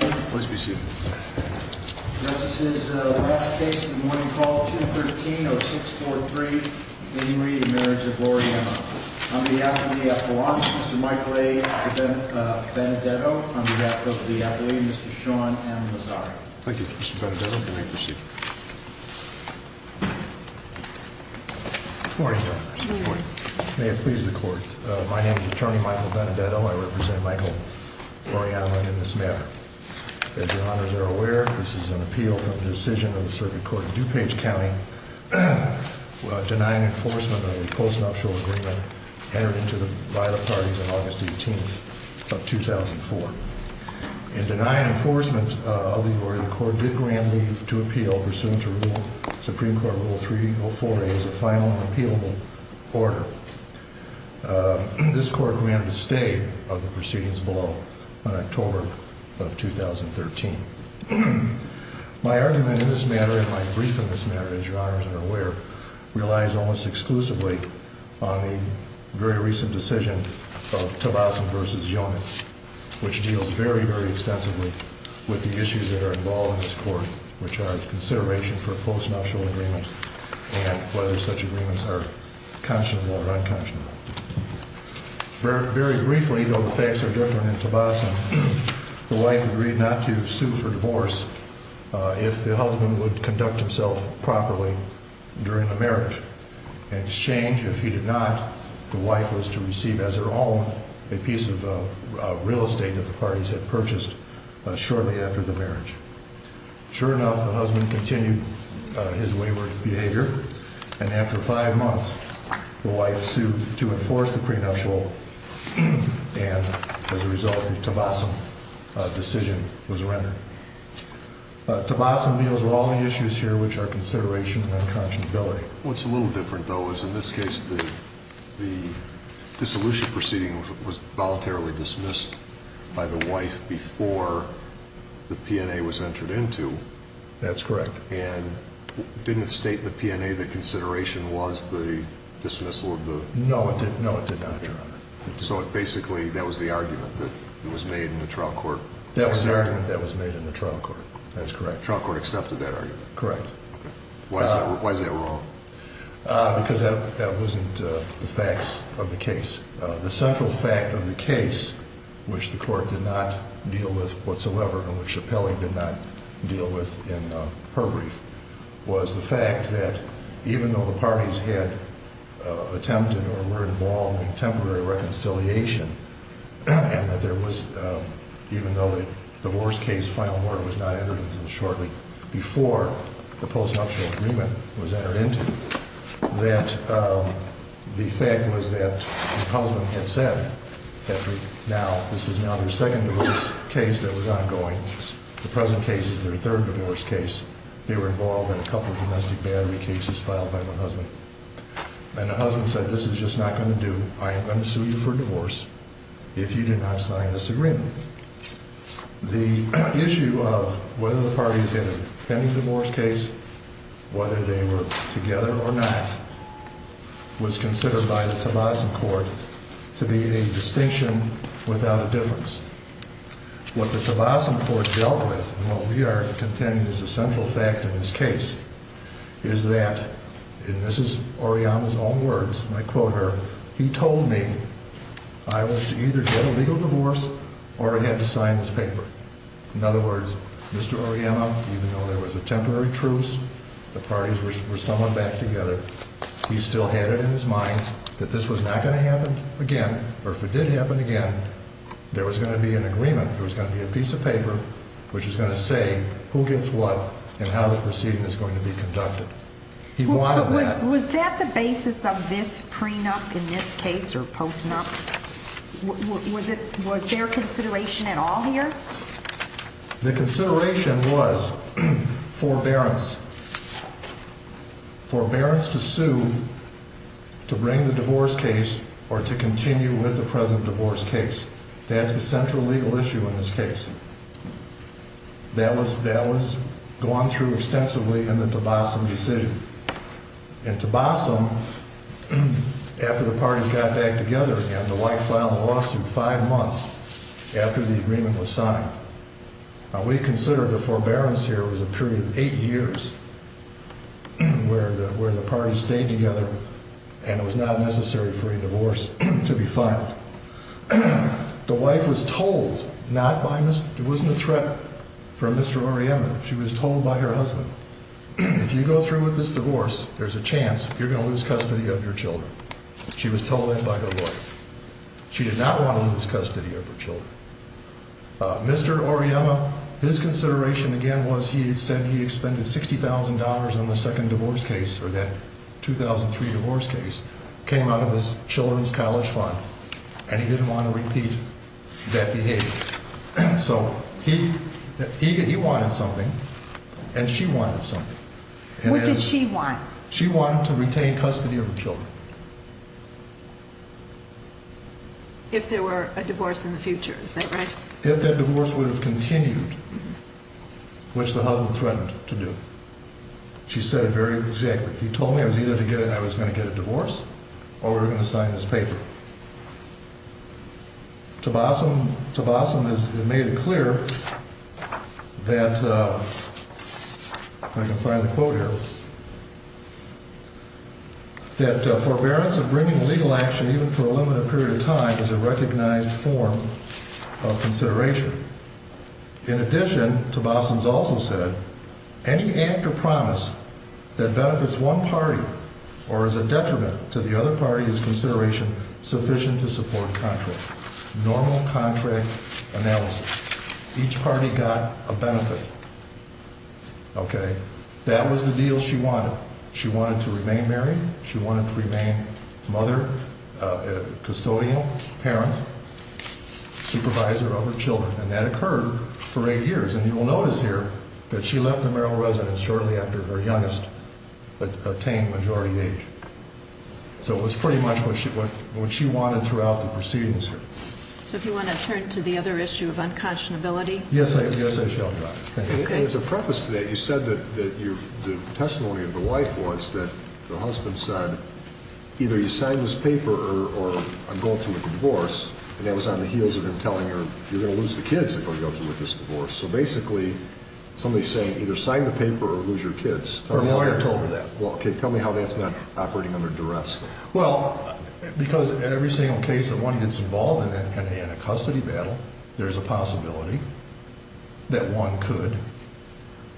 On behalf of the FAA, Mr. Michael A. Benedetto, on behalf of the FAA, Mr. Sean M. Mazzari. Thank you, Mr. Benedetto. You may proceed. Good morning. May it please the court. My name is attorney Michael Benedetto. I represent Michael Auriemma in this matter. As your honors are aware, this is an appeal from the decision of the circuit court in DuPage County, denying enforcement of the Coast and Upshore Agreement entered into the violent parties on August 18th of 2004. In denying enforcement of the order, the court did grant leave to appeal pursuant to Supreme Court Rule 340 as a final and appealable order. This court granted a stay of the proceedings below on October of 2013. My argument in this matter and my brief in this matter, as your honors are aware, relies almost exclusively on the very recent decision of Tabassum v. Yonah, which deals very, very extensively with the issues that are involved in this court, which are consideration for a Coast and Upshore Agreement and whether such agreements are conscionable or unconscionable. Very briefly, though the facts are different in Tabassum, the wife agreed not to sue for divorce if the husband would conduct himself properly during the marriage. In exchange, if he did not, the wife was to receive as her own a piece of real estate that the parties had purchased shortly after the marriage. Sure enough, the husband continued his wayward behavior, and after five months, the wife sued to enforce the prenuptial, and as a result, the Tabassum decision was rendered. Tabassum deals with all the issues here, which are consideration and unconscionability. What's a little different, though, is in this case, the dissolution proceeding was voluntarily dismissed by the wife before the P&A was entered into. That's correct. And didn't it state in the P&A that consideration was the dismissal of the… No, it did not, Your Honor. So basically, that was the argument that was made in the trial court. That was the argument that was made in the trial court. That's correct. The trial court accepted that argument. Correct. Why is that wrong? Because that wasn't the facts of the case. The central fact of the case, which the court did not deal with whatsoever, and which Chappelle did not deal with in her brief, was the fact that even though the parties had attempted or were involved in temporary reconciliation, and that there was, even though the divorce case, final word, was not entered into shortly before the postnuptial agreement was entered into, that the fact was that the husband had said that this is now their second divorce case that was ongoing. The present case is their third divorce case. They were involved in a couple of domestic battery cases filed by the husband. And the husband said, this is just not going to do. I am going to sue you for divorce if you do not sign this agreement. The issue of whether the parties had a pending divorce case, whether they were together or not, was considered by the Tavassan court to be a distinction without a difference. What the Tavassan court dealt with, and what we are contending is a central fact in this case, is that, and this is Oriyama's own words, and I quote her, he told me I was to either get a legal divorce or I had to sign this paper. In other words, Mr. Oriyama, even though there was a temporary truce, the parties were summoned back together, he still had it in his mind that this was not going to happen again, or if it did happen again, there was going to be an agreement. There was going to be a piece of paper which was going to say who gets what and how the proceeding is going to be conducted. He wanted that. Was that the basis of this prenup in this case or post-nup? Was there consideration at all here? The consideration was forbearance. Forbearance to sue, to bring the divorce case, or to continue with the present divorce case. That's the central legal issue in this case. That was gone through extensively in the Tavassan decision. In Tavassan, after the parties got back together again, the White filed a lawsuit five months after the agreement was signed. We consider the forbearance here was a period of eight years where the parties stayed together and it was not necessary for a divorce to be filed. The wife was told not by Ms. – it wasn't a threat from Mr. Oriema. She was told by her husband, if you go through with this divorce, there's a chance you're going to lose custody of your children. She was told that by her lawyer. She did not want to lose custody of her children. Mr. Oriema, his consideration again was he said he expended $60,000 on the second divorce case, or that 2003 divorce case, came out of his children's college fund, and he didn't want to repeat that behavior. So he wanted something, and she wanted something. What did she want? She wanted to retain custody of her children. If there were a divorce in the future, is that right? If that divorce would have continued, which the husband threatened to do. She said it very exactly. He told me I was either going to get a divorce or we were going to sign this paper. Tabassum has made it clear that – if I can find the quote here – that forbearance of bringing legal action, even for a limited period of time, is a recognized form of consideration. In addition, Tabassum has also said, any act or promise that benefits one party or is a detriment to the other party is consideration sufficient to support contract. Normal contract analysis. Each party got a benefit. That was the deal she wanted. She wanted to remain married. She wanted to remain mother, custodian, parent, supervisor of her children. And that occurred for eight years. And you will notice here that she left the marital residence shortly after her youngest attained majority age. So it was pretty much what she wanted throughout the proceedings here. So if you want to turn to the other issue of unconscionability? Yes, I shall, Doctor. As a preface to that, you said that the testimony of the wife was that the husband said, either you sign this paper or I'm going through with the divorce. And that was on the heels of him telling her, you're going to lose the kids if I go through with this divorce. So basically, somebody's saying, either sign the paper or lose your kids. Her lawyer told her that. Well, tell me how that's not operating under duress, then. Well, because in every single case that one gets involved in a custody battle, there's a possibility that one could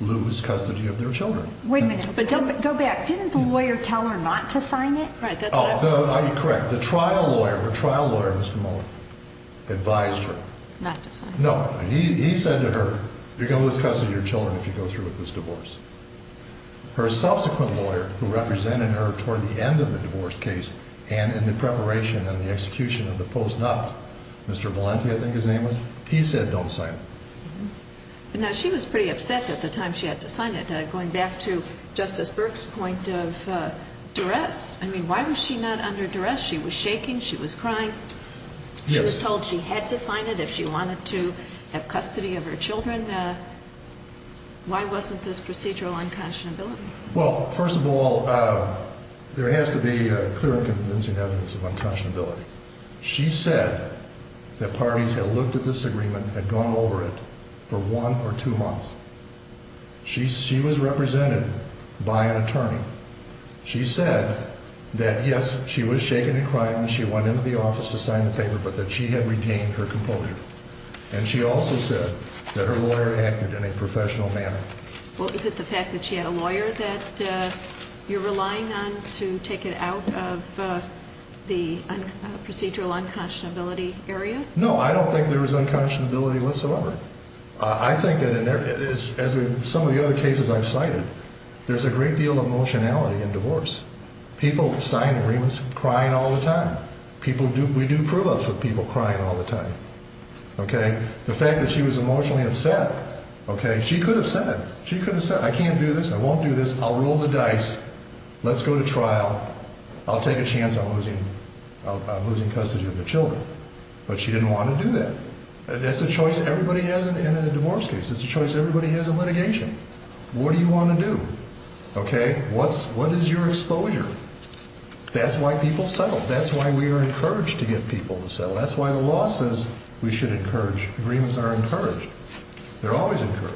lose custody of their children. Wait a minute. Go back. Didn't the lawyer tell her not to sign it? Right, that's what I was saying. No, you're correct. The trial lawyer, her trial lawyer, Mr. Mohler, advised her. Not to sign it. No, he said to her, you're going to lose custody of your children if you go through with this divorce. Her subsequent lawyer, who represented her toward the end of the divorce case and in the preparation and the execution of the post-nup, Mr. Valenti, I think his name was, he said don't sign it. Now, she was pretty upset at the time she had to sign it. Going back to Justice Burke's point of duress, I mean, why was she not under duress? She was shaking. She was crying. She was told she had to sign it if she wanted to have custody of her children. Why wasn't this procedural unconscionability? Well, first of all, there has to be clear and convincing evidence of unconscionability. She said that parties had looked at this agreement, had gone over it for one or two months. She was represented by an attorney. She said that, yes, she was shaking and crying when she went into the office to sign the paper, but that she had regained her composure. And she also said that her lawyer acted in a professional manner. Well, is it the fact that she had a lawyer that you're relying on to take it out of the procedural unconscionability area? No, I don't think there was unconscionability whatsoever. I think that in some of the other cases I've cited, there's a great deal of emotionality in divorce. People sign agreements crying all the time. We do prove-ups with people crying all the time. The fact that she was emotionally upset, she could have said, I can't do this, I won't do this, I'll roll the dice, let's go to trial, I'll take a chance on losing custody of the children. But she didn't want to do that. That's a choice everybody has in a divorce case. It's a choice everybody has in litigation. What do you want to do? Okay, what is your exposure? That's why people settle. That's why we are encouraged to get people to settle. That's why the law says we should encourage. Agreements are encouraged. They're always encouraged.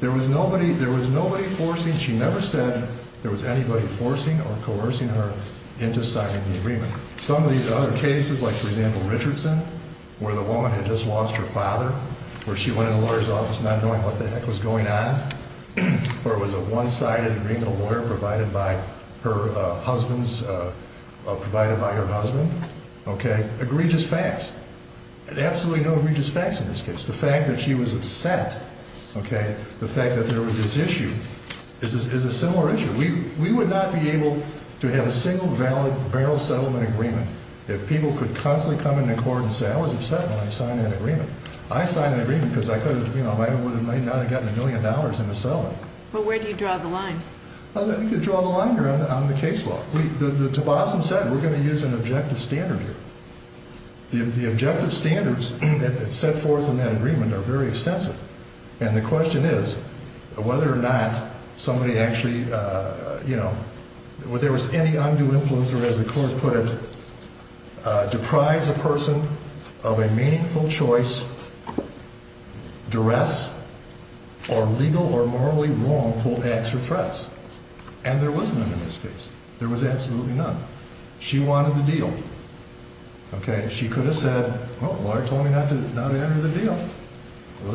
There was nobody forcing. She never said there was anybody forcing or coercing her into signing the agreement. Some of these other cases, like, for example, Richardson, where the woman had just lost her father, where she went into the lawyer's office not knowing what the heck was going on, where it was a one-sided agreement, a lawyer provided by her husband, okay, egregious facts. Absolutely no egregious facts in this case. The fact that she was upset, okay, the fact that there was this issue is a similar issue. We would not be able to have a single valid barrel settlement agreement if people could constantly come into court and say, I was upset when I signed that agreement. I signed that agreement because I could have, you know, I might not have gotten a million dollars in the settlement. But where do you draw the line? You could draw the line here on the case law. The Tobossum said we're going to use an objective standard here. The objective standards that are set forth in that agreement are very extensive. And the question is whether or not somebody actually, you know, whether there was any undue influence or, as the court put it, deprives a person of a meaningful choice, duress, or legal or morally wrongful acts or threats. And there was none in this case. There was absolutely none. She wanted the deal. Okay, she could have said, well, the lawyer told me not to enter the deal.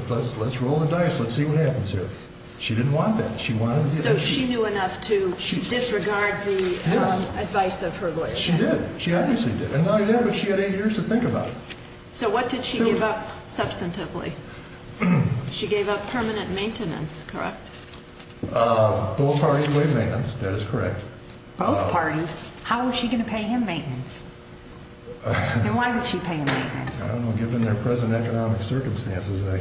Let's roll the dice. Let's see what happens here. She didn't want that. She wanted the deal. So she knew enough to disregard the advice of her lawyer. She did. She obviously did. And not only that, but she had eight years to think about it. So what did she give up substantively? She gave up permanent maintenance, correct? Both parties waived maintenance. Both parties? How was she going to pay him maintenance? And why would she pay him maintenance? I don't know. Given their present economic circumstances, I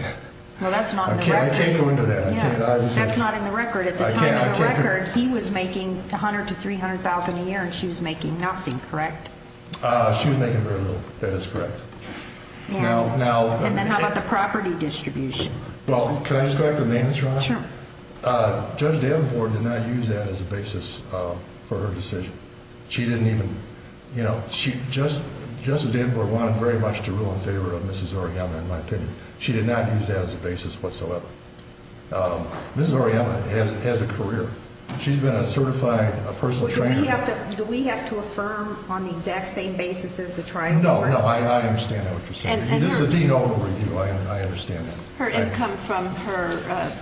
can't go into that. That's not in the record. At the time of the record, he was making $100,000 to $300,000 a year, and she was making nothing, correct? She was making very little. That is correct. And then how about the property distribution? Well, can I just correct the maintenance, Ron? Sure. Judge Davenport did not use that as a basis for her decision. She didn't even, you know, Judge Davenport wanted very much to rule in favor of Mrs. Oriana, in my opinion. She did not use that as a basis whatsoever. Mrs. Oriana has a career. She's been a certified personal trainer. Do we have to affirm on the exact same basis as the trial? No, no. I understand that what you're saying. This is a dean overview. I understand that. Her income from her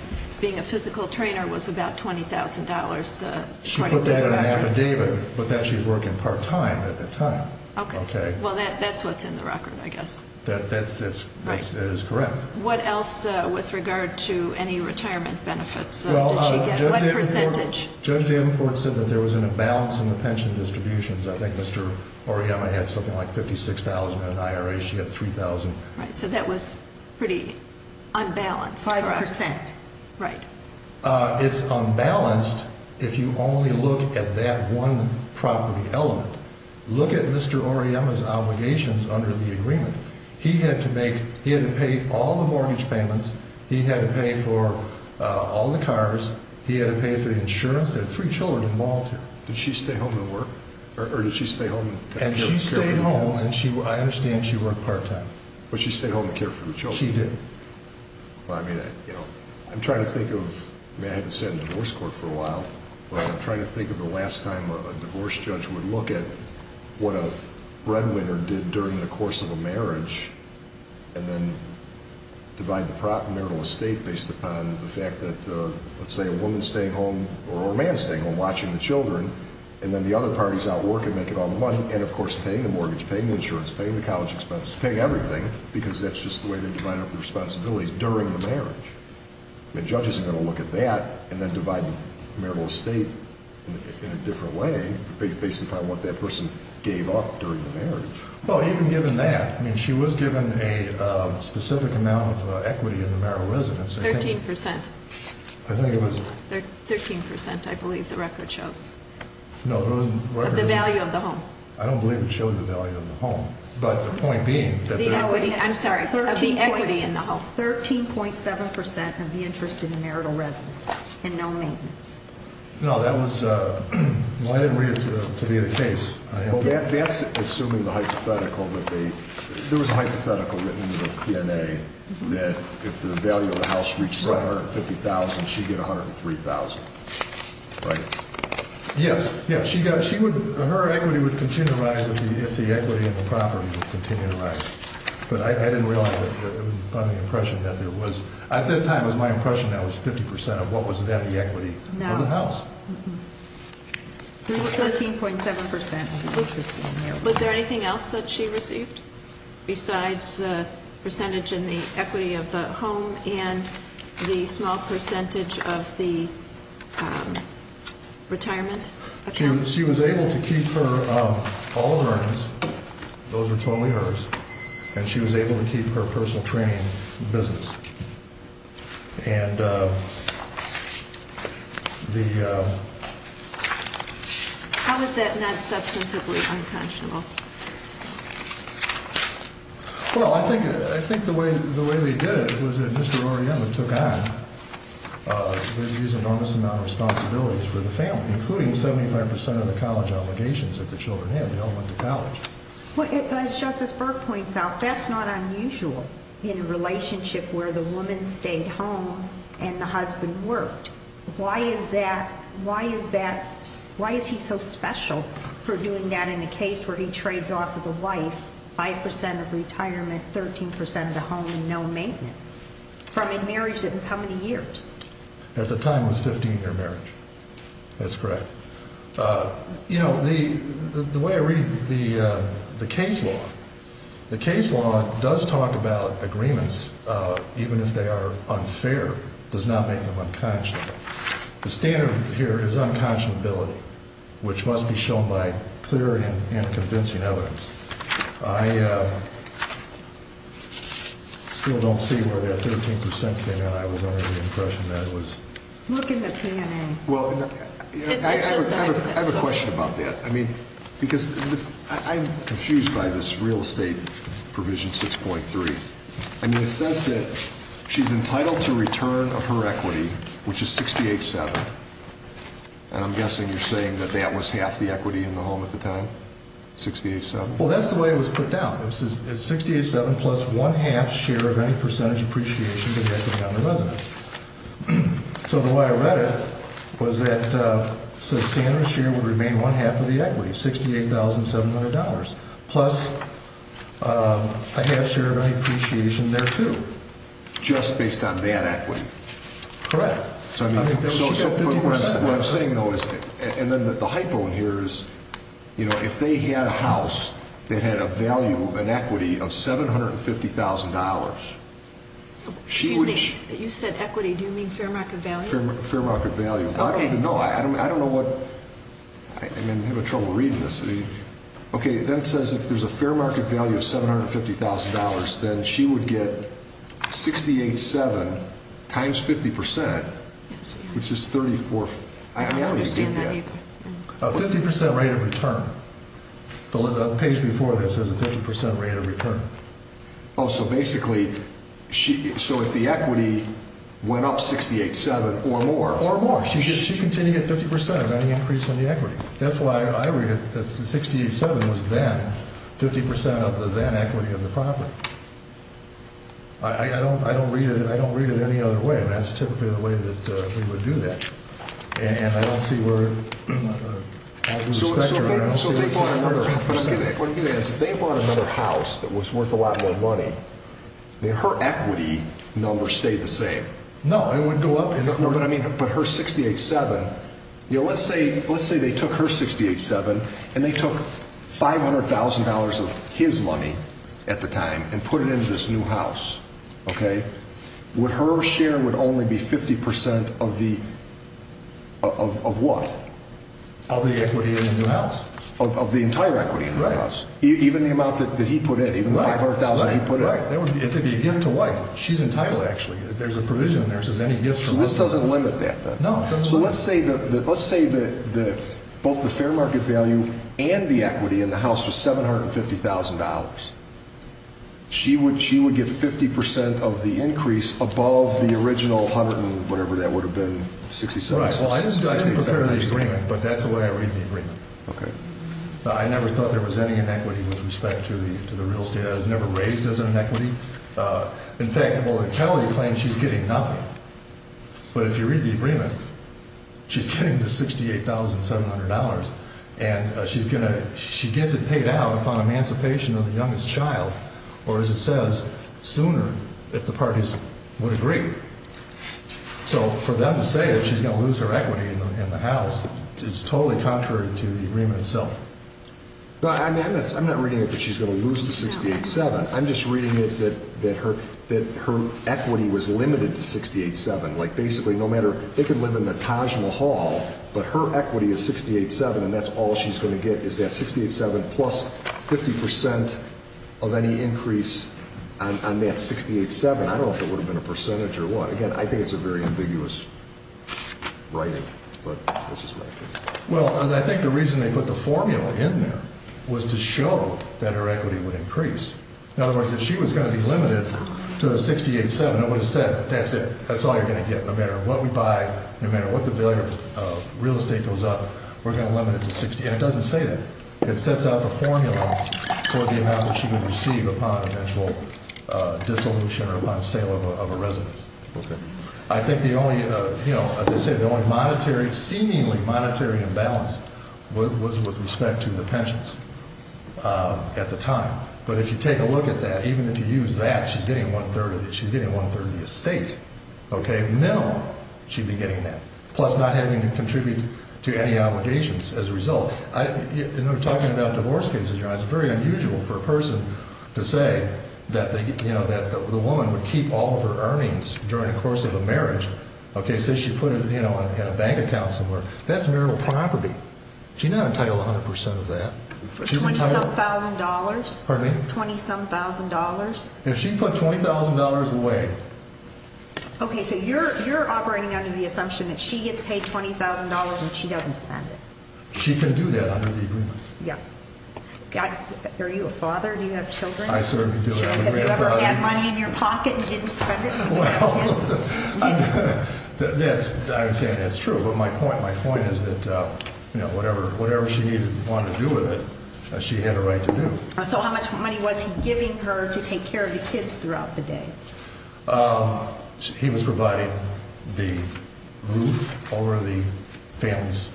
being a physical trainer was about $20,000. She put that in an affidavit. But that she was working part-time at the time. Okay. Well, that's what's in the record, I guess. That is correct. What else with regard to any retirement benefits did she get? What percentage? Judge Davenport said that there was an imbalance in the pension distributions. I think Mr. Oriana had something like $56,000, and in IRA she had $3,000. Right. So that was pretty unbalanced. Five percent. Right. It's unbalanced if you only look at that one property element. Look at Mr. Oriana's obligations under the agreement. He had to pay all the mortgage payments. He had to pay for all the cars. He had to pay for the insurance. There were three children involved here. Did she stay home and work? Or did she stay home and take care of the children? And she stayed home, and I understand she worked part-time. But she stayed home and cared for the children? She did. I'm trying to think of—I haven't sat in a divorce court for a while, but I'm trying to think of the last time a divorce judge would look at what a breadwinner did during the course of a marriage and then divide the marital estate based upon the fact that, let's say, a woman is staying home or a man is staying home watching the children, and then the other party is out working, making all the money, and, of course, paying the mortgage, paying the insurance, paying the college expenses, paying everything, because that's just the way they divide up the responsibilities during the marriage. The judge isn't going to look at that and then divide the marital estate in a different way based upon what that person gave up during the marriage. Well, even given that, I mean, she was given a specific amount of equity in the marital residence. Thirteen percent. I think it was— Thirteen percent, I believe the record shows. No, the record— Of the value of the home. I don't believe it shows the value of the home. But the point being that— The equity, I'm sorry, of the equity in the home. Thirteen point seven percent of the interest in the marital residence and no maintenance. No, that was—well, I didn't read it to be the case. Well, that's assuming the hypothetical that they— there was a hypothetical written in the PNA that if the value of the house reaches $750,000, she'd get $103,000, right? Yes, yes. Her equity would continue to rise if the equity in the property would continue to rise. But I didn't realize that—it was my impression that there was— at that time it was my impression that it was 50 percent of what was then the equity of the house. No. Thirteen point seven percent. It was 15 here. Was there anything else that she received besides the percentage in the equity of the home and the small percentage of the retirement account? She was able to keep her—all of her earnings. Those are totally hers. And she was able to keep her personal training business. And the— How is that not substantively unconscionable? Well, I think the way they did it was that Mr. Orellana took on an enormous amount of responsibilities for the family, including 75 percent of the college obligations that the children had. They all went to college. As Justice Berg points out, that's not unusual in a relationship where the woman stayed home and the husband worked. Why is that—why is that—why is he so special for doing that in a case where he trades off of the wife five percent of retirement, 13 percent of the home, and no maintenance? From a marriage that was how many years? At the time it was a 15-year marriage. That's correct. You know, the way I read the case law, the case law does talk about agreements, even if they are unfair, does not make them unconscionable. The standard here is unconscionability, which must be shown by clear and convincing evidence. I still don't see where that 13 percent came in. I was under the impression that it was— Look in the P&A. I have a question about that. I mean, because I'm confused by this real estate provision 6.3. I mean, it says that she's entitled to return of her equity, which is 68.7, and I'm guessing you're saying that that was half the equity in the home at the time, 68.7? Well, that's the way it was put down. It says 68.7 plus one-half share of any percentage appreciation to the equity on the residence. So the way I read it was that—so the standard share would remain one-half of the equity, $68,700, plus a half share of any appreciation there, too. Just based on that equity? Correct. So what I'm saying, though, is—and then the hypo in here is, you know, if they had a house that had a value, an equity of $750,000— Excuse me. You said equity. Do you mean fair market value? Fair market value. Okay. I don't even know. I don't know what—I'm having trouble reading this. Okay, then it says if there's a fair market value of $750,000, then she would get 68.7 times 50%, which is 34— I don't understand that either. A 50% rate of return. The page before this has a 50% rate of return. Oh, so basically—so if the equity went up 68.7 or more— It would continue at 50% of any increase in the equity. That's why I read it as the 68.7 was then 50% of the then equity of the property. I don't read it any other way, and that's typically the way that we would do that. And I don't see where— So if they bought another house that was worth a lot more money, her equity number stayed the same. No, it wouldn't go up. But her 68.7—let's say they took her 68.7 and they took $500,000 of his money at the time and put it into this new house. Her share would only be 50% of the—of what? Of the equity in the new house. Of the entire equity in the new house. Right. Even the amount that he put in. Right. Even the $500,000 he put in. Right. It would be a gift to wife. She's entitled, actually. There's a provision in there that says any gifts from other people— So this doesn't limit that, then? No, it doesn't limit it. So let's say that both the fair market value and the equity in the house was $750,000. She would get 50% of the increase above the original hundred and whatever that would have been, 68.7. Right. Well, I didn't prepare the agreement, but that's the way I read the agreement. Okay. I never thought there was any inequity with respect to the real estate. It was never raised as an inequity. In fact, the bullet penalty claims she's getting nothing. But if you read the agreement, she's getting the $68,700, and she's going to—she gets it paid out upon emancipation of the youngest child, or as it says, sooner if the parties would agree. So for them to say that she's going to lose her equity in the house, it's totally contrary to the agreement itself. I'm not reading it that she's going to lose the 68.7. I'm just reading it that her equity was limited to 68.7. Like, basically, no matter—they could live in the Taj Mahal, but her equity is 68.7, and that's all she's going to get is that 68.7 plus 50% of any increase on that 68.7. I don't know if it would have been a percentage or what. Again, I think it's a very ambiguous writing, but that's just my opinion. Well, I think the reason they put the formula in there was to show that her equity would increase. In other words, if she was going to be limited to a 68.7, it would have said, that's it. That's all you're going to get. No matter what we buy, no matter what the bill of real estate goes up, we're going to limit it to 60. And it doesn't say that. It sets out the formula for the amount that she would receive upon eventual dissolution or upon sale of a residence. I think the only—as I said, the only seemingly monetary imbalance was with respect to the pensions at the time. But if you take a look at that, even if you use that, she's getting one-third of the estate. Minimal, she'd be getting that, plus not having to contribute to any obligations as a result. Talking about divorce cases, it's very unusual for a person to say that the woman would keep all of her earnings during the course of a marriage. Say she put it in a bank account somewhere. That's marital property. She's not entitled to 100 percent of that. Twenty-some thousand dollars? Pardon me? Twenty-some thousand dollars? If she put $20,000 away— Okay, so you're operating under the assumption that she gets paid $20,000 and she doesn't spend it. She can do that under the agreement. Yeah. Are you a father? Do you have children? I certainly do. Have you ever had money in your pocket and didn't spend it? Well, I would say that's true, but my point is that whatever she wanted to do with it, she had a right to do. So how much money was he giving her to take care of the kids throughout the day? He was providing the roof over the family's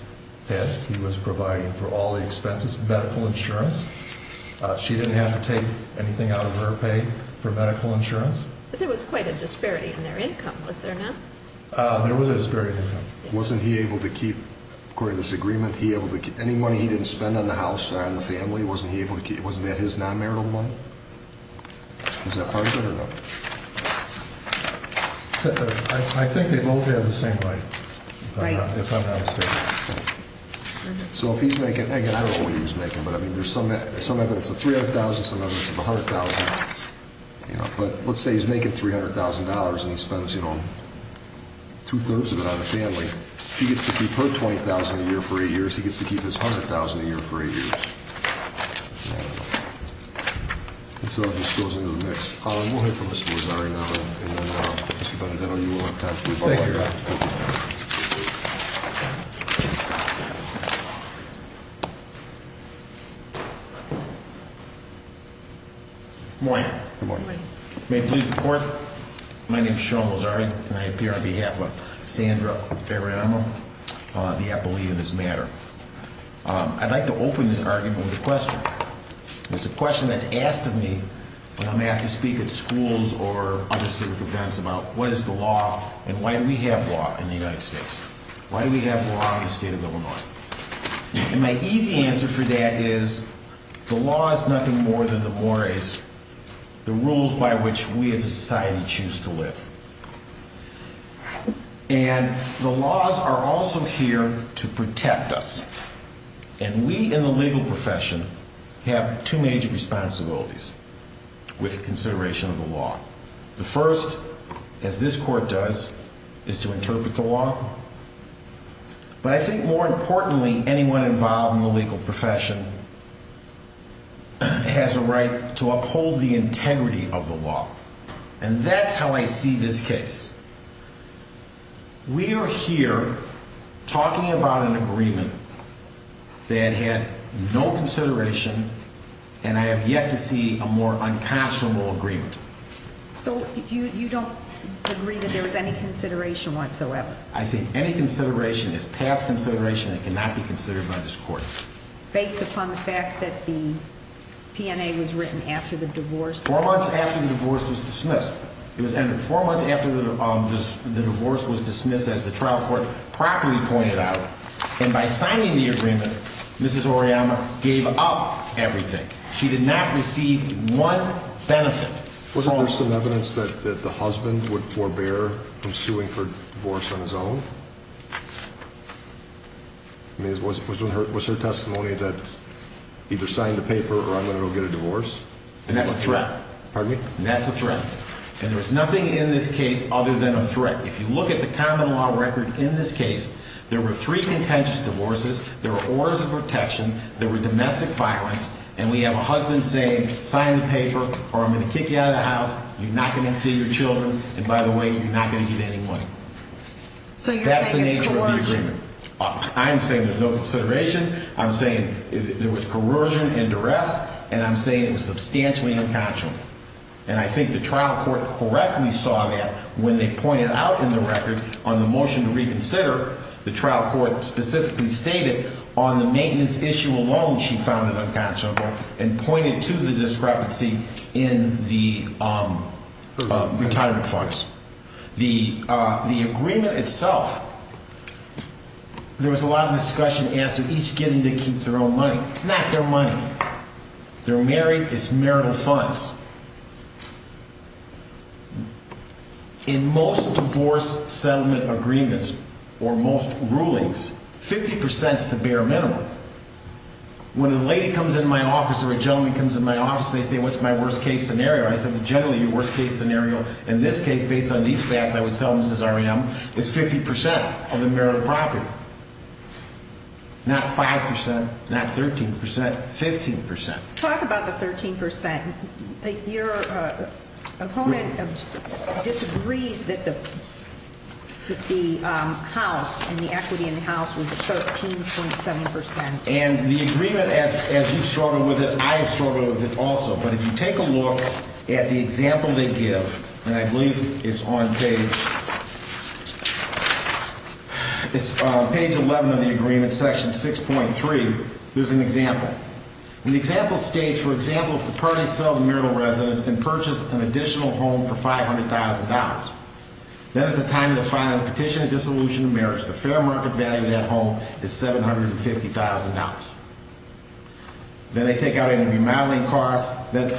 head. He was providing for all the expenses, medical insurance. She didn't have to take anything out of her pay for medical insurance. But there was quite a disparity in their income, was there not? There was a disparity in income. Wasn't he able to keep, according to this agreement, any money he didn't spend on the house, on the family, wasn't that his non-marital money? Is that part of it or not? I think they both have the same right, if I'm not mistaken. So if he's making, again, I don't know what he was making, but there's some evidence of $300,000, some evidence of $100,000. But let's say he's making $300,000 and he spends two-thirds of it on the family. If he gets to keep her $20,000 a year for eight years, he gets to keep his $100,000 a year for eight years. I don't know. This all just goes into the mix. We'll hear from Mr. Mazzari now, and then Mr. Benedetto, you will have time for your follow-up. Thank you, Your Honor. Good morning. Good morning. May it please the Court, my name is Sean Mazzari, and I appear on behalf of Sandra Pereira, the appellee in this matter. I'd like to open this argument with a question. It's a question that's asked of me when I'm asked to speak at schools or other civic events about what is the law and why do we have law in the United States? Why do we have law in the state of Illinois? And my easy answer for that is the law is nothing more than the mores, the rules by which we as a society choose to live. And the laws are also here to protect us. And we in the legal profession have two major responsibilities with consideration of the law. The first, as this Court does, is to interpret the law. But I think more importantly, anyone involved in the legal profession has a right to uphold the integrity of the law. And that's how I see this case. We are here talking about an agreement that had no consideration, and I have yet to see a more unconscionable agreement. So you don't agree that there was any consideration whatsoever? I think any consideration is past consideration and cannot be considered by this Court. Based upon the fact that the PNA was written after the divorce? Four months after the divorce was dismissed. It was entered four months after the divorce was dismissed, as the trial court properly pointed out. And by signing the agreement, Mrs. Oriana gave up everything. She did not receive one benefit from it. Wasn't there some evidence that the husband would forbear from suing for divorce on his own? Was her testimony that either sign the paper or I'm going to go get a divorce? And that's a threat. Pardon me? And that's a threat. And there's nothing in this case other than a threat. If you look at the common law record in this case, there were three contentious divorces. There were orders of protection. There were domestic violence. And we have a husband saying, sign the paper or I'm going to kick you out of the house. You're not going to see your children. And by the way, you're not going to get any money. So you're saying it's coercion? That's the nature of the agreement. I'm saying there's no consideration. I'm saying there was coercion and duress. And I'm saying it was substantially unconscionable. And I think the trial court correctly saw that when they pointed out in the record on the motion to reconsider, the trial court specifically stated on the maintenance issue alone she found it unconscionable and pointed to the discrepancy in the retirement funds. The agreement itself, there was a lot of discussion as to each getting to keep their own money. It's not their money. They're married. It's marital funds. In most divorce settlement agreements or most rulings, 50% is the bare minimum. When a lady comes into my office or a gentleman comes into my office, they say, what's my worst-case scenario? I say, generally, your worst-case scenario, in this case, based on these facts, I would tell them, this is R.E.M., is 50% of the marital property, not 5%, not 13%, 15%. Talk about the 13%. Your opponent disagrees that the house and the equity in the house was 13.7%. And the agreement, as you've struggled with it, I have struggled with it also. But if you take a look at the example they give, and I believe it's on page 11 of the agreement, section 6.3, there's an example. And the example states, for example, if the parties sell the marital residence and purchase an additional home for $500,000, then at the time of the filing, petition of dissolution of marriage, the fair market value of that home is $750,000. Then they take out any remodeling costs that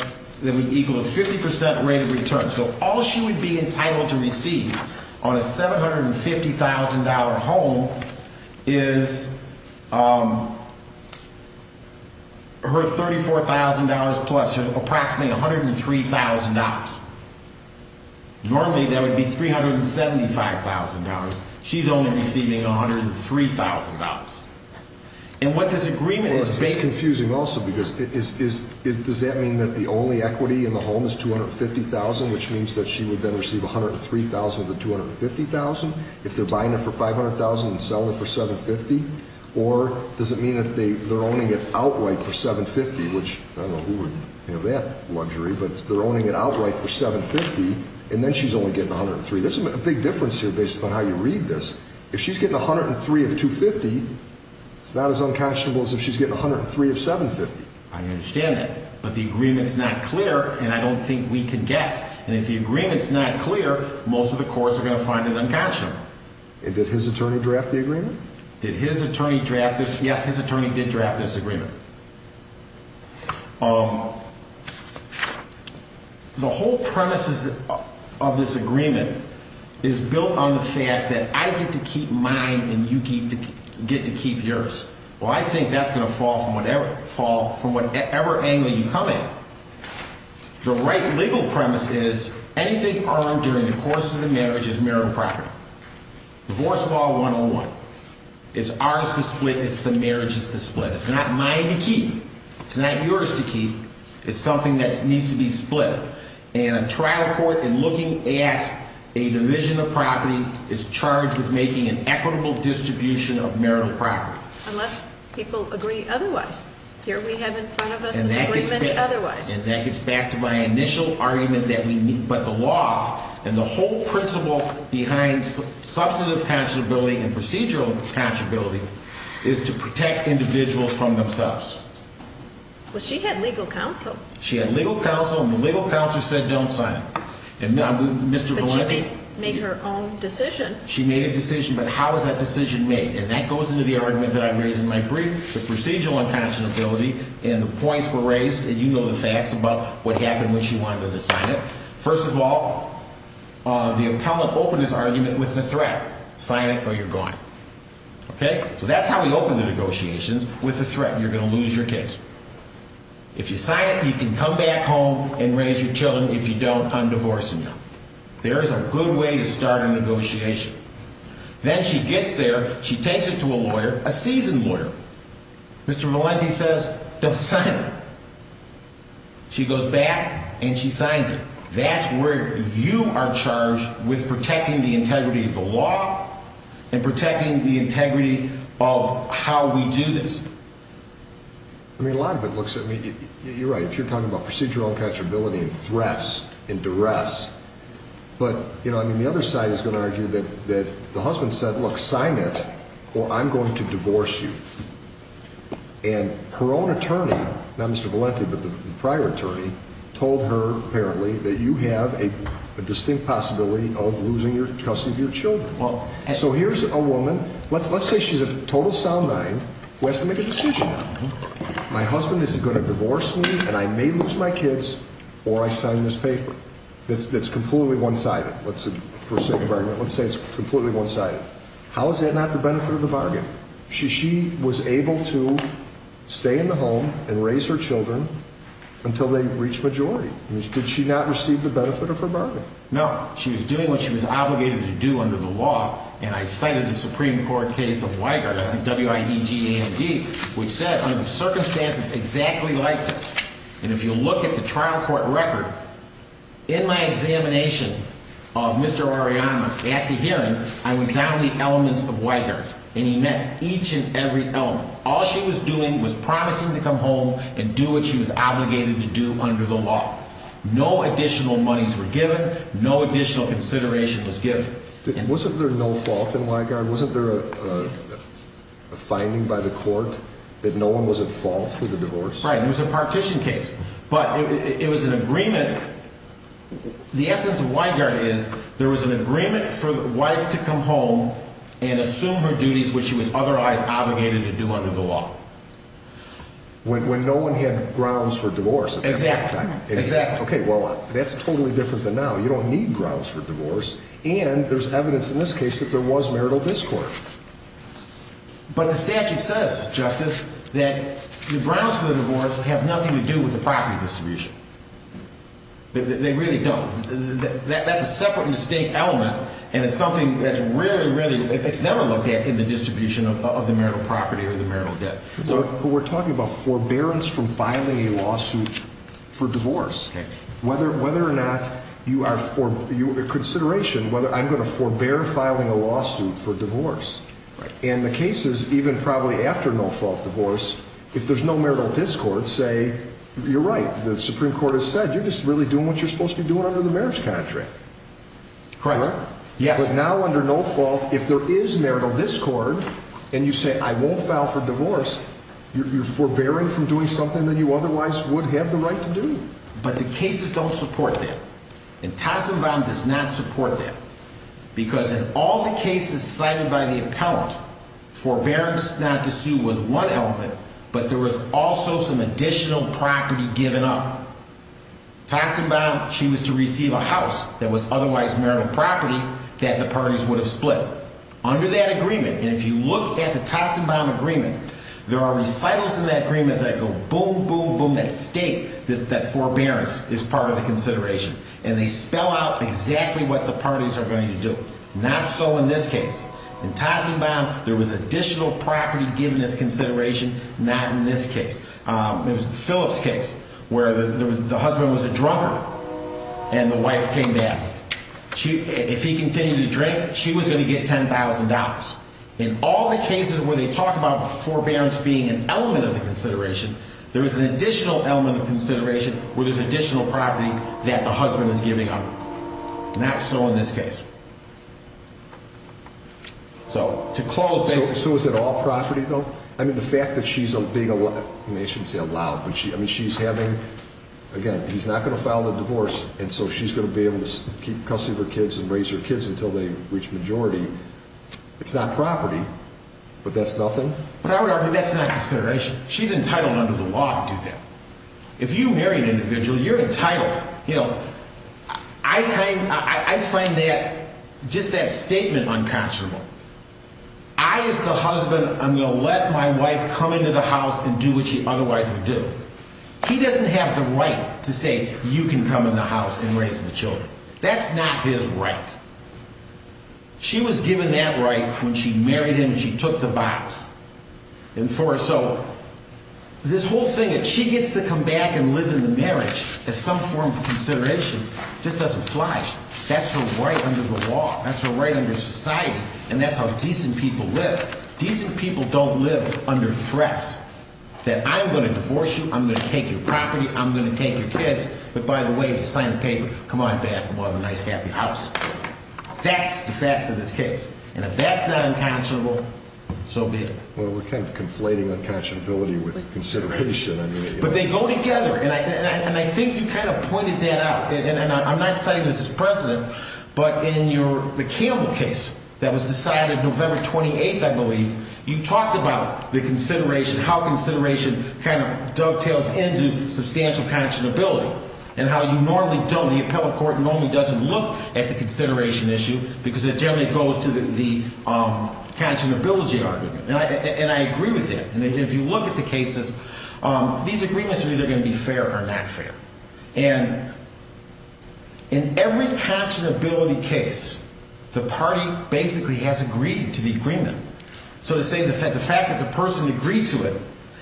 would equal a 50% rate of return. So all she would be entitled to receive on a $750,000 home is her $34,000 plus her approximately $103,000. Normally, that would be $375,000. She's only receiving $103,000. It's confusing also because does that mean that the only equity in the home is $250,000, which means that she would then receive $103,000 of the $250,000 if they're buying it for $500,000 and selling it for $750,000? Or does it mean that they're owning it outright for $750,000, which I don't know who would have that luxury, but they're owning it outright for $750,000, and then she's only getting $103,000? There's a big difference here based upon how you read this. If she's getting $103,000 of $250,000, it's not as unconscionable as if she's getting $103,000 of $750,000. I understand that, but the agreement's not clear, and I don't think we can guess. And if the agreement's not clear, most of the courts are going to find it unconscionable. And did his attorney draft the agreement? Did his attorney draft this? Yes, his attorney did draft this agreement. The whole premise of this agreement is built on the fact that I get to keep mine and you get to keep yours. Well, I think that's going to fall from whatever angle you come in. The right legal premise is anything earned during the course of the marriage is marital property. Divorce law 101. It's ours to split. It's the marriage's to split. It's not mine to keep. It's not yours to keep. It's something that needs to be split. And a trial court, in looking at a division of property, is charged with making an equitable distribution of marital property. Unless people agree otherwise. Here we have in front of us an agreement otherwise. And that gets back to my initial argument that we need. But the law and the whole principle behind substantive conscionability and procedural conscionability is to protect individuals from themselves. Well, she had legal counsel. She had legal counsel, and the legal counsel said don't sign it. But she made her own decision. She made a decision, but how was that decision made? And that goes into the argument that I raised in my brief. The procedural unconscionability and the points were raised, and you know the facts about what happened when she wanted to sign it. First of all, the appellant opened his argument with a threat. Sign it or you're gone. Okay? So that's how we open the negotiations. With a threat, you're going to lose your case. If you sign it, you can come back home and raise your children. If you don't, I'm divorcing you. There is a good way to start a negotiation. Then she gets there. She takes it to a lawyer, a seasoned lawyer. Mr. Valenti says don't sign it. She goes back and she signs it. That's where you are charged with protecting the integrity of the law and protecting the integrity of how we do this. I mean, a lot of it looks at me. You're right. If you're talking about procedural unconscionability and threats and duress. But, you know, I mean, the other side is going to argue that the husband said, look, sign it or I'm going to divorce you. And her own attorney, not Mr. Valenti, but the prior attorney, told her apparently that you have a distinct possibility of losing custody of your children. So here's a woman. Let's say she's a total sound mind who has to make a decision. My husband is going to divorce me and I may lose my kids or I sign this paper that's completely one-sided. Let's say it's completely one-sided. How is that not the benefit of the bargain? She was able to stay in the home and raise her children until they reached majority. Did she not receive the benefit of her bargain? No. She was doing what she was obligated to do under the law. And I cited the Supreme Court case of Weigert, W-I-E-G-E-R-T, which said under the circumstances exactly like this. And if you look at the trial court record, in my examination of Mr. Arellano at the hearing, I went down the elements of Weigert. And he met each and every element. All she was doing was promising to come home and do what she was obligated to do under the law. No additional monies were given. No additional consideration was given. Wasn't there no fault in Weigert? Wasn't there a finding by the court that no one was at fault for the divorce? Right. It was a partition case. But it was an agreement. The essence of Weigert is there was an agreement for the wife to come home and assume her duties which she was otherwise obligated to do under the law. When no one had grounds for divorce. Exactly. Okay, well, that's totally different than now. You don't need grounds for divorce. And there's evidence in this case that there was marital discord. But the statute says, Justice, that the grounds for the divorce have nothing to do with the property distribution. They really don't. That's a separate mistake element, and it's something that's really, really, it's never looked at in the distribution of the marital property or the marital debt. But we're talking about forbearance from filing a lawsuit for divorce. Okay. Whether or not you are, for consideration, whether I'm going to forbear filing a lawsuit for divorce. And the cases, even probably after no-fault divorce, if there's no marital discord, say, you're right, the Supreme Court has said, you're just really doing what you're supposed to be doing under the marriage contract. Correct. Correct? Yes. But now under no-fault, if there is marital discord, and you say, I won't file for divorce, you're forbearing from doing something that you otherwise would have the right to do. But the cases don't support that. And Tossenbaum does not support that. Because in all the cases cited by the appellant, forbearance not to sue was one element, but there was also some additional property given up. Tossenbaum, she was to receive a house that was otherwise marital property that the parties would have split. Under that agreement, and if you look at the Tossenbaum agreement, there are recitals in that agreement that go boom, boom, boom. That state, that forbearance is part of the consideration. And they spell out exactly what the parties are going to do. Not so in this case. In Tossenbaum, there was additional property given as consideration. Not in this case. It was the Phillips case where the husband was a drunkard and the wife came back. If he continued to drink, she was going to get $10,000. In all the cases where they talk about forbearance being an element of the consideration, there is an additional element of consideration where there's additional property that the husband is giving up. Not so in this case. So, to close... So is it all property though? I mean, the fact that she's being allowed... I shouldn't say allowed, but she's having... Again, he's not going to file the divorce, and so she's going to be able to keep custody of her kids and raise her kids until they reach majority. It's not property. But that's nothing? But I would argue that's not consideration. She's entitled under the law to do that. If you marry an individual, you're entitled. You know, I find that... just that statement unconscionable. I, as the husband, I'm going to let my wife come into the house and do what she otherwise would do. He doesn't have the right to say, you can come in the house and raise the children. That's not his right. She was given that right when she married him and she took the vows. And so, this whole thing that she gets to come back and live in the marriage as some form of consideration just doesn't fly. That's her right under the law. That's her right under society. And that's how decent people live. Decent people don't live under threats that I'm going to divorce you, I'm going to take your property, I'm going to take your kids. But by the way, if you sign the paper, come on back and buy me a nice happy house. That's the facts of this case. And if that's not unconscionable, so be it. Well, we're kind of conflating unconscionability with consideration. But they go together. And I think you kind of pointed that out. And I'm not citing this as precedent, but in the Campbell case that was decided November 28th, I believe, you talked about the consideration, how consideration kind of dovetails into substantial conscionability and how you normally don't, the appellate court normally doesn't look at the consideration issue because it generally goes to the conscionability argument. And I agree with that. And if you look at the cases, these agreements are either going to be fair or not fair. And in every conscionability case, the party basically has agreed to the agreement. So to say the fact that the person agreed to it,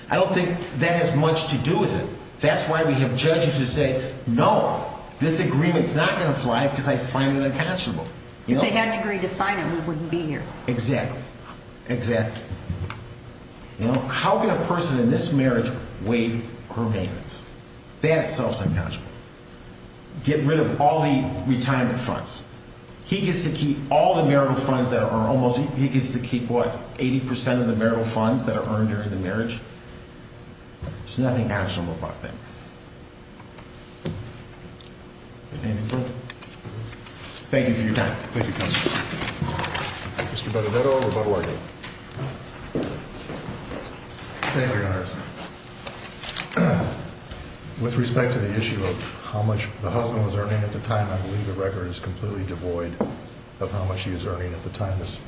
I don't think that has much to do with it. That's why we have judges who say, no, this agreement's not going to fly because I find it unconscionable. If they hadn't agreed to sign it, we wouldn't be here. Exactly. Exactly. How can a person in this marriage waive her payments? That itself is unconscionable. Get rid of all the retirement funds. He gets to keep all the marital funds that are earned. He gets to keep, what, 80 percent of the marital funds that are earned during the marriage? There's nothing conscionable about that. Anything further? Thank you for your time. Thank you, counsel. Mr. Benedetto, rebuttal argument. Thank you, Your Honor. With respect to the issue of how much the husband was earning at the time, I believe the record is completely devoid of how much she was earning at the time this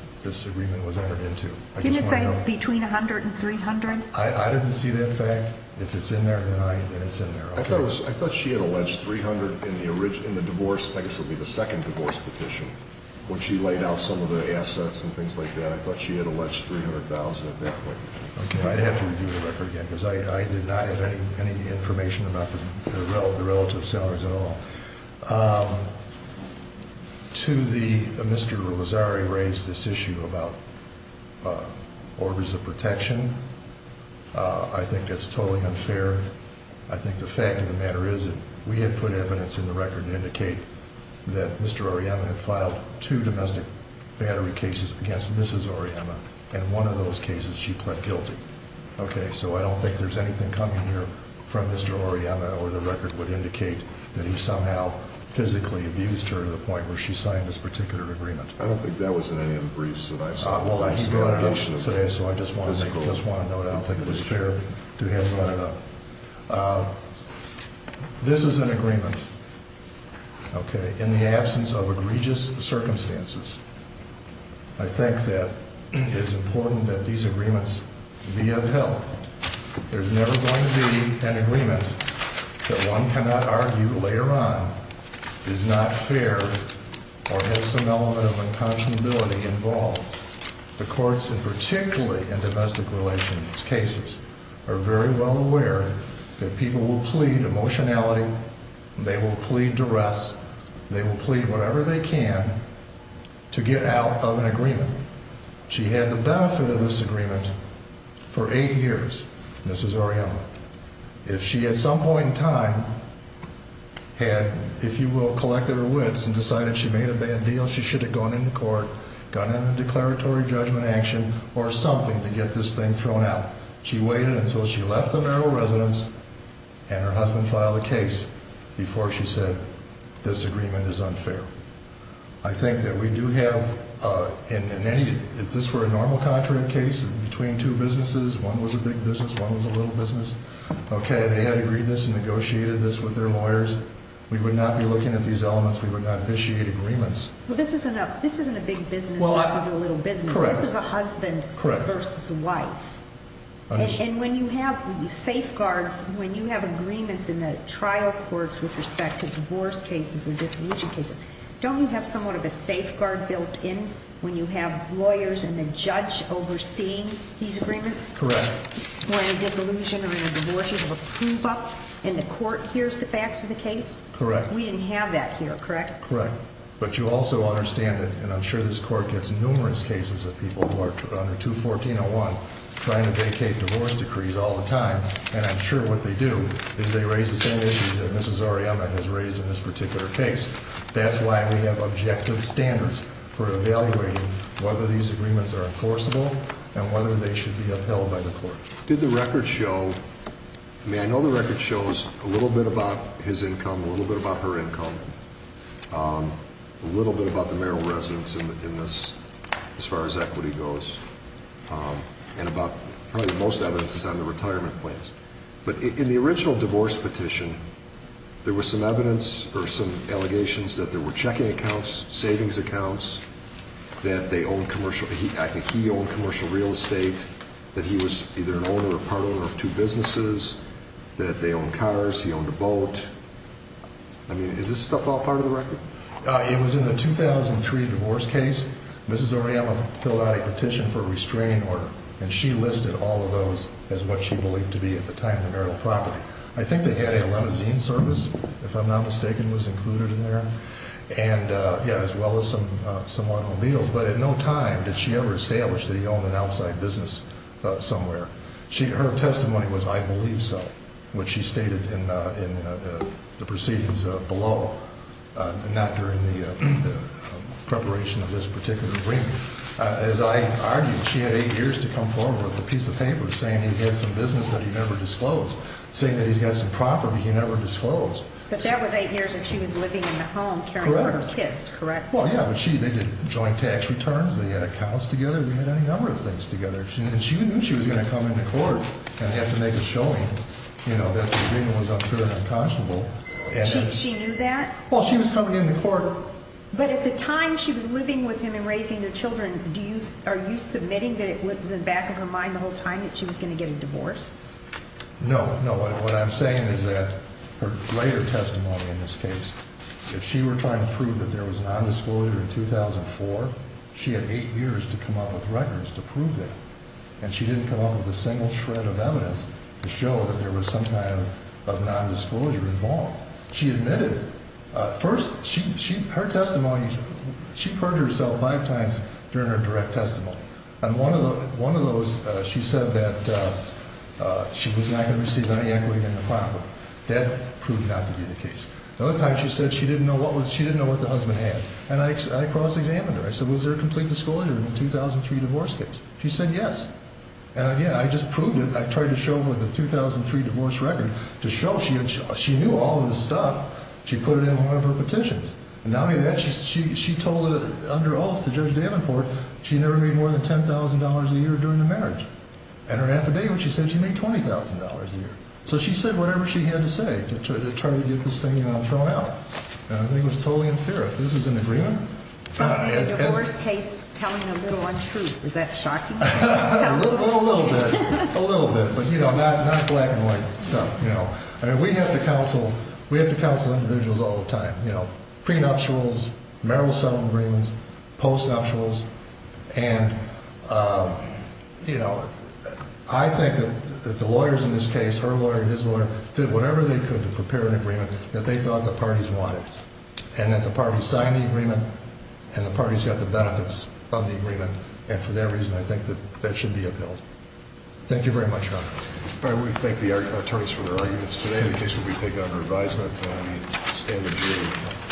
agreement was entered into. Can you say between $100,000 and $300,000? I didn't see that fact. If it's in there, then it's in there. I thought she had alleged $300,000 in the divorce, I guess it would be the second divorce petition, when she laid out some of the assets and things like that. I thought she had alleged $300,000 at that point. Okay. I'd have to review the record again, because I did not have any information about the relative salaries at all. Mr. Lozzari raised this issue about orders of protection. I think that's totally unfair. I think the fact of the matter is that we had put evidence in the record to indicate that Mr. Auriemma had filed two domestic battery cases against Mrs. Auriemma, and in one of those cases she pled guilty. Okay, so I don't think there's anything coming here from Mr. Auriemma where the record would indicate that he somehow physically abused her to the point where she signed this particular agreement. I don't think that was in any of the briefs that I saw. Well, I just got it out today, so I just want to note I don't think it was fair to have it brought up. This is an agreement, okay, in the absence of egregious circumstances. I think that it's important that these agreements be upheld. There's never going to be an agreement that one cannot argue later on is not fair or has some element of unconscionability involved. The courts, and particularly in domestic relations cases, are very well aware that people will plead emotionality, they will plead duress, they will plead whatever they can to get out of an agreement. She had the benefit of this agreement for eight years, Mrs. Auriemma. If she at some point in time had, if you will, collected her wits and decided she made a bad deal, she should have gone into court, gone into declaratory judgment action or something to get this thing thrown out. She waited until she left the marital residence and her husband filed a case before she said this agreement is unfair. I think that we do have, if this were a normal contract case between two businesses, one was a big business, one was a little business, okay, they had agreed this and negotiated this with their lawyers. We would not be looking at these elements. We would not initiate agreements. Well, this isn't a big business versus a little business. This is a husband versus a wife. And when you have safeguards, when you have agreements in the trial courts with respect to divorce cases or disillusion cases, don't you have somewhat of a safeguard built in when you have lawyers and the judge overseeing these agreements? Correct. When a disillusion or a divorce, you have a proof up and the court hears the facts of the case? Correct. We didn't have that here, correct? Correct. But you also understand that, and I'm sure this court gets numerous cases of people who are under 214.01, trying to vacate divorce decrees all the time, and I'm sure what they do is they raise the same issues that Mrs. Ariema has raised in this particular case. That's why we have objective standards for evaluating whether these agreements are enforceable and whether they should be upheld by the court. Did the record show, I mean, I know the record shows a little bit about his income, a little bit about her income, a little bit about the marital residence in this as far as equity goes, and about probably the most evidence is on the retirement plans. But in the original divorce petition, there was some evidence or some allegations that there were checking accounts, savings accounts, that they owned commercial, I think he owned commercial real estate, that he was either an owner or part owner of two businesses, that they owned cars, he owned a boat. I mean, is this stuff all part of the record? It was in the 2003 divorce case. Mrs. Ariema filled out a petition for a restraint order, and she listed all of those as what she believed to be at the time the marital property. I think they had a limousine service, if I'm not mistaken, was included in there. And, yeah, as well as some automobiles. But at no time did she ever establish that he owned an outside business somewhere. Her testimony was, I believe so, which she stated in the proceedings below, not during the preparation of this particular agreement. As I argued, she had eight years to come forward with a piece of paper saying he had some business that he never disclosed, saying that he's got some property he never disclosed. But that was eight years that she was living in the home caring for her kids, correct? Correct. Well, yeah, but they did joint tax returns. They had accounts together. They had any number of things together. And she knew she was going to come into court and have to make a showing, you know, that the agreement was unfair and unconscionable. She knew that? Well, she was coming into court. But at the time she was living with him and raising their children, are you submitting that it was in the back of her mind the whole time that she was going to get a divorce? No, no. What I'm saying is that her later testimony in this case, if she were trying to prove that there was nondisclosure in 2004, she had eight years to come up with records to prove that. And she didn't come up with a single shred of evidence to show that there was some kind of nondisclosure involved. She admitted. First, her testimony, she purged herself five times during her direct testimony. And one of those, she said that she was not going to receive any equity in the property. That proved not to be the case. The other time she said she didn't know what the husband had. And I cross-examined her. I said, was there a complete disclosure in the 2003 divorce case? She said yes. And, again, I just proved it. I tried to show her the 2003 divorce record to show she knew all of this stuff. She put it in one of her petitions. Not only that, she told under oath to Judge Davenport she never made more than $10,000 a year during the marriage. And her affidavit, she said she made $20,000 a year. So she said whatever she had to say to try to get this thing thrown out. I think it was totally unfair. This is an agreement. So the divorce case telling a little untruth, is that shocking? A little bit. A little bit. But, you know, not black and white stuff, you know. We have to counsel individuals all the time. You know, prenuptials, marital settlement agreements, postnuptials. And, you know, I think that the lawyers in this case, her lawyer, his lawyer, did whatever they could to prepare an agreement that they thought the parties wanted. And that the parties signed the agreement, and the parties got the benefits of the agreement. And for their reason, I think that that should be upheld. Thank you very much, Your Honor. All right. We thank the attorneys for their arguments today. The case will be taken under advisement in the standard hearing.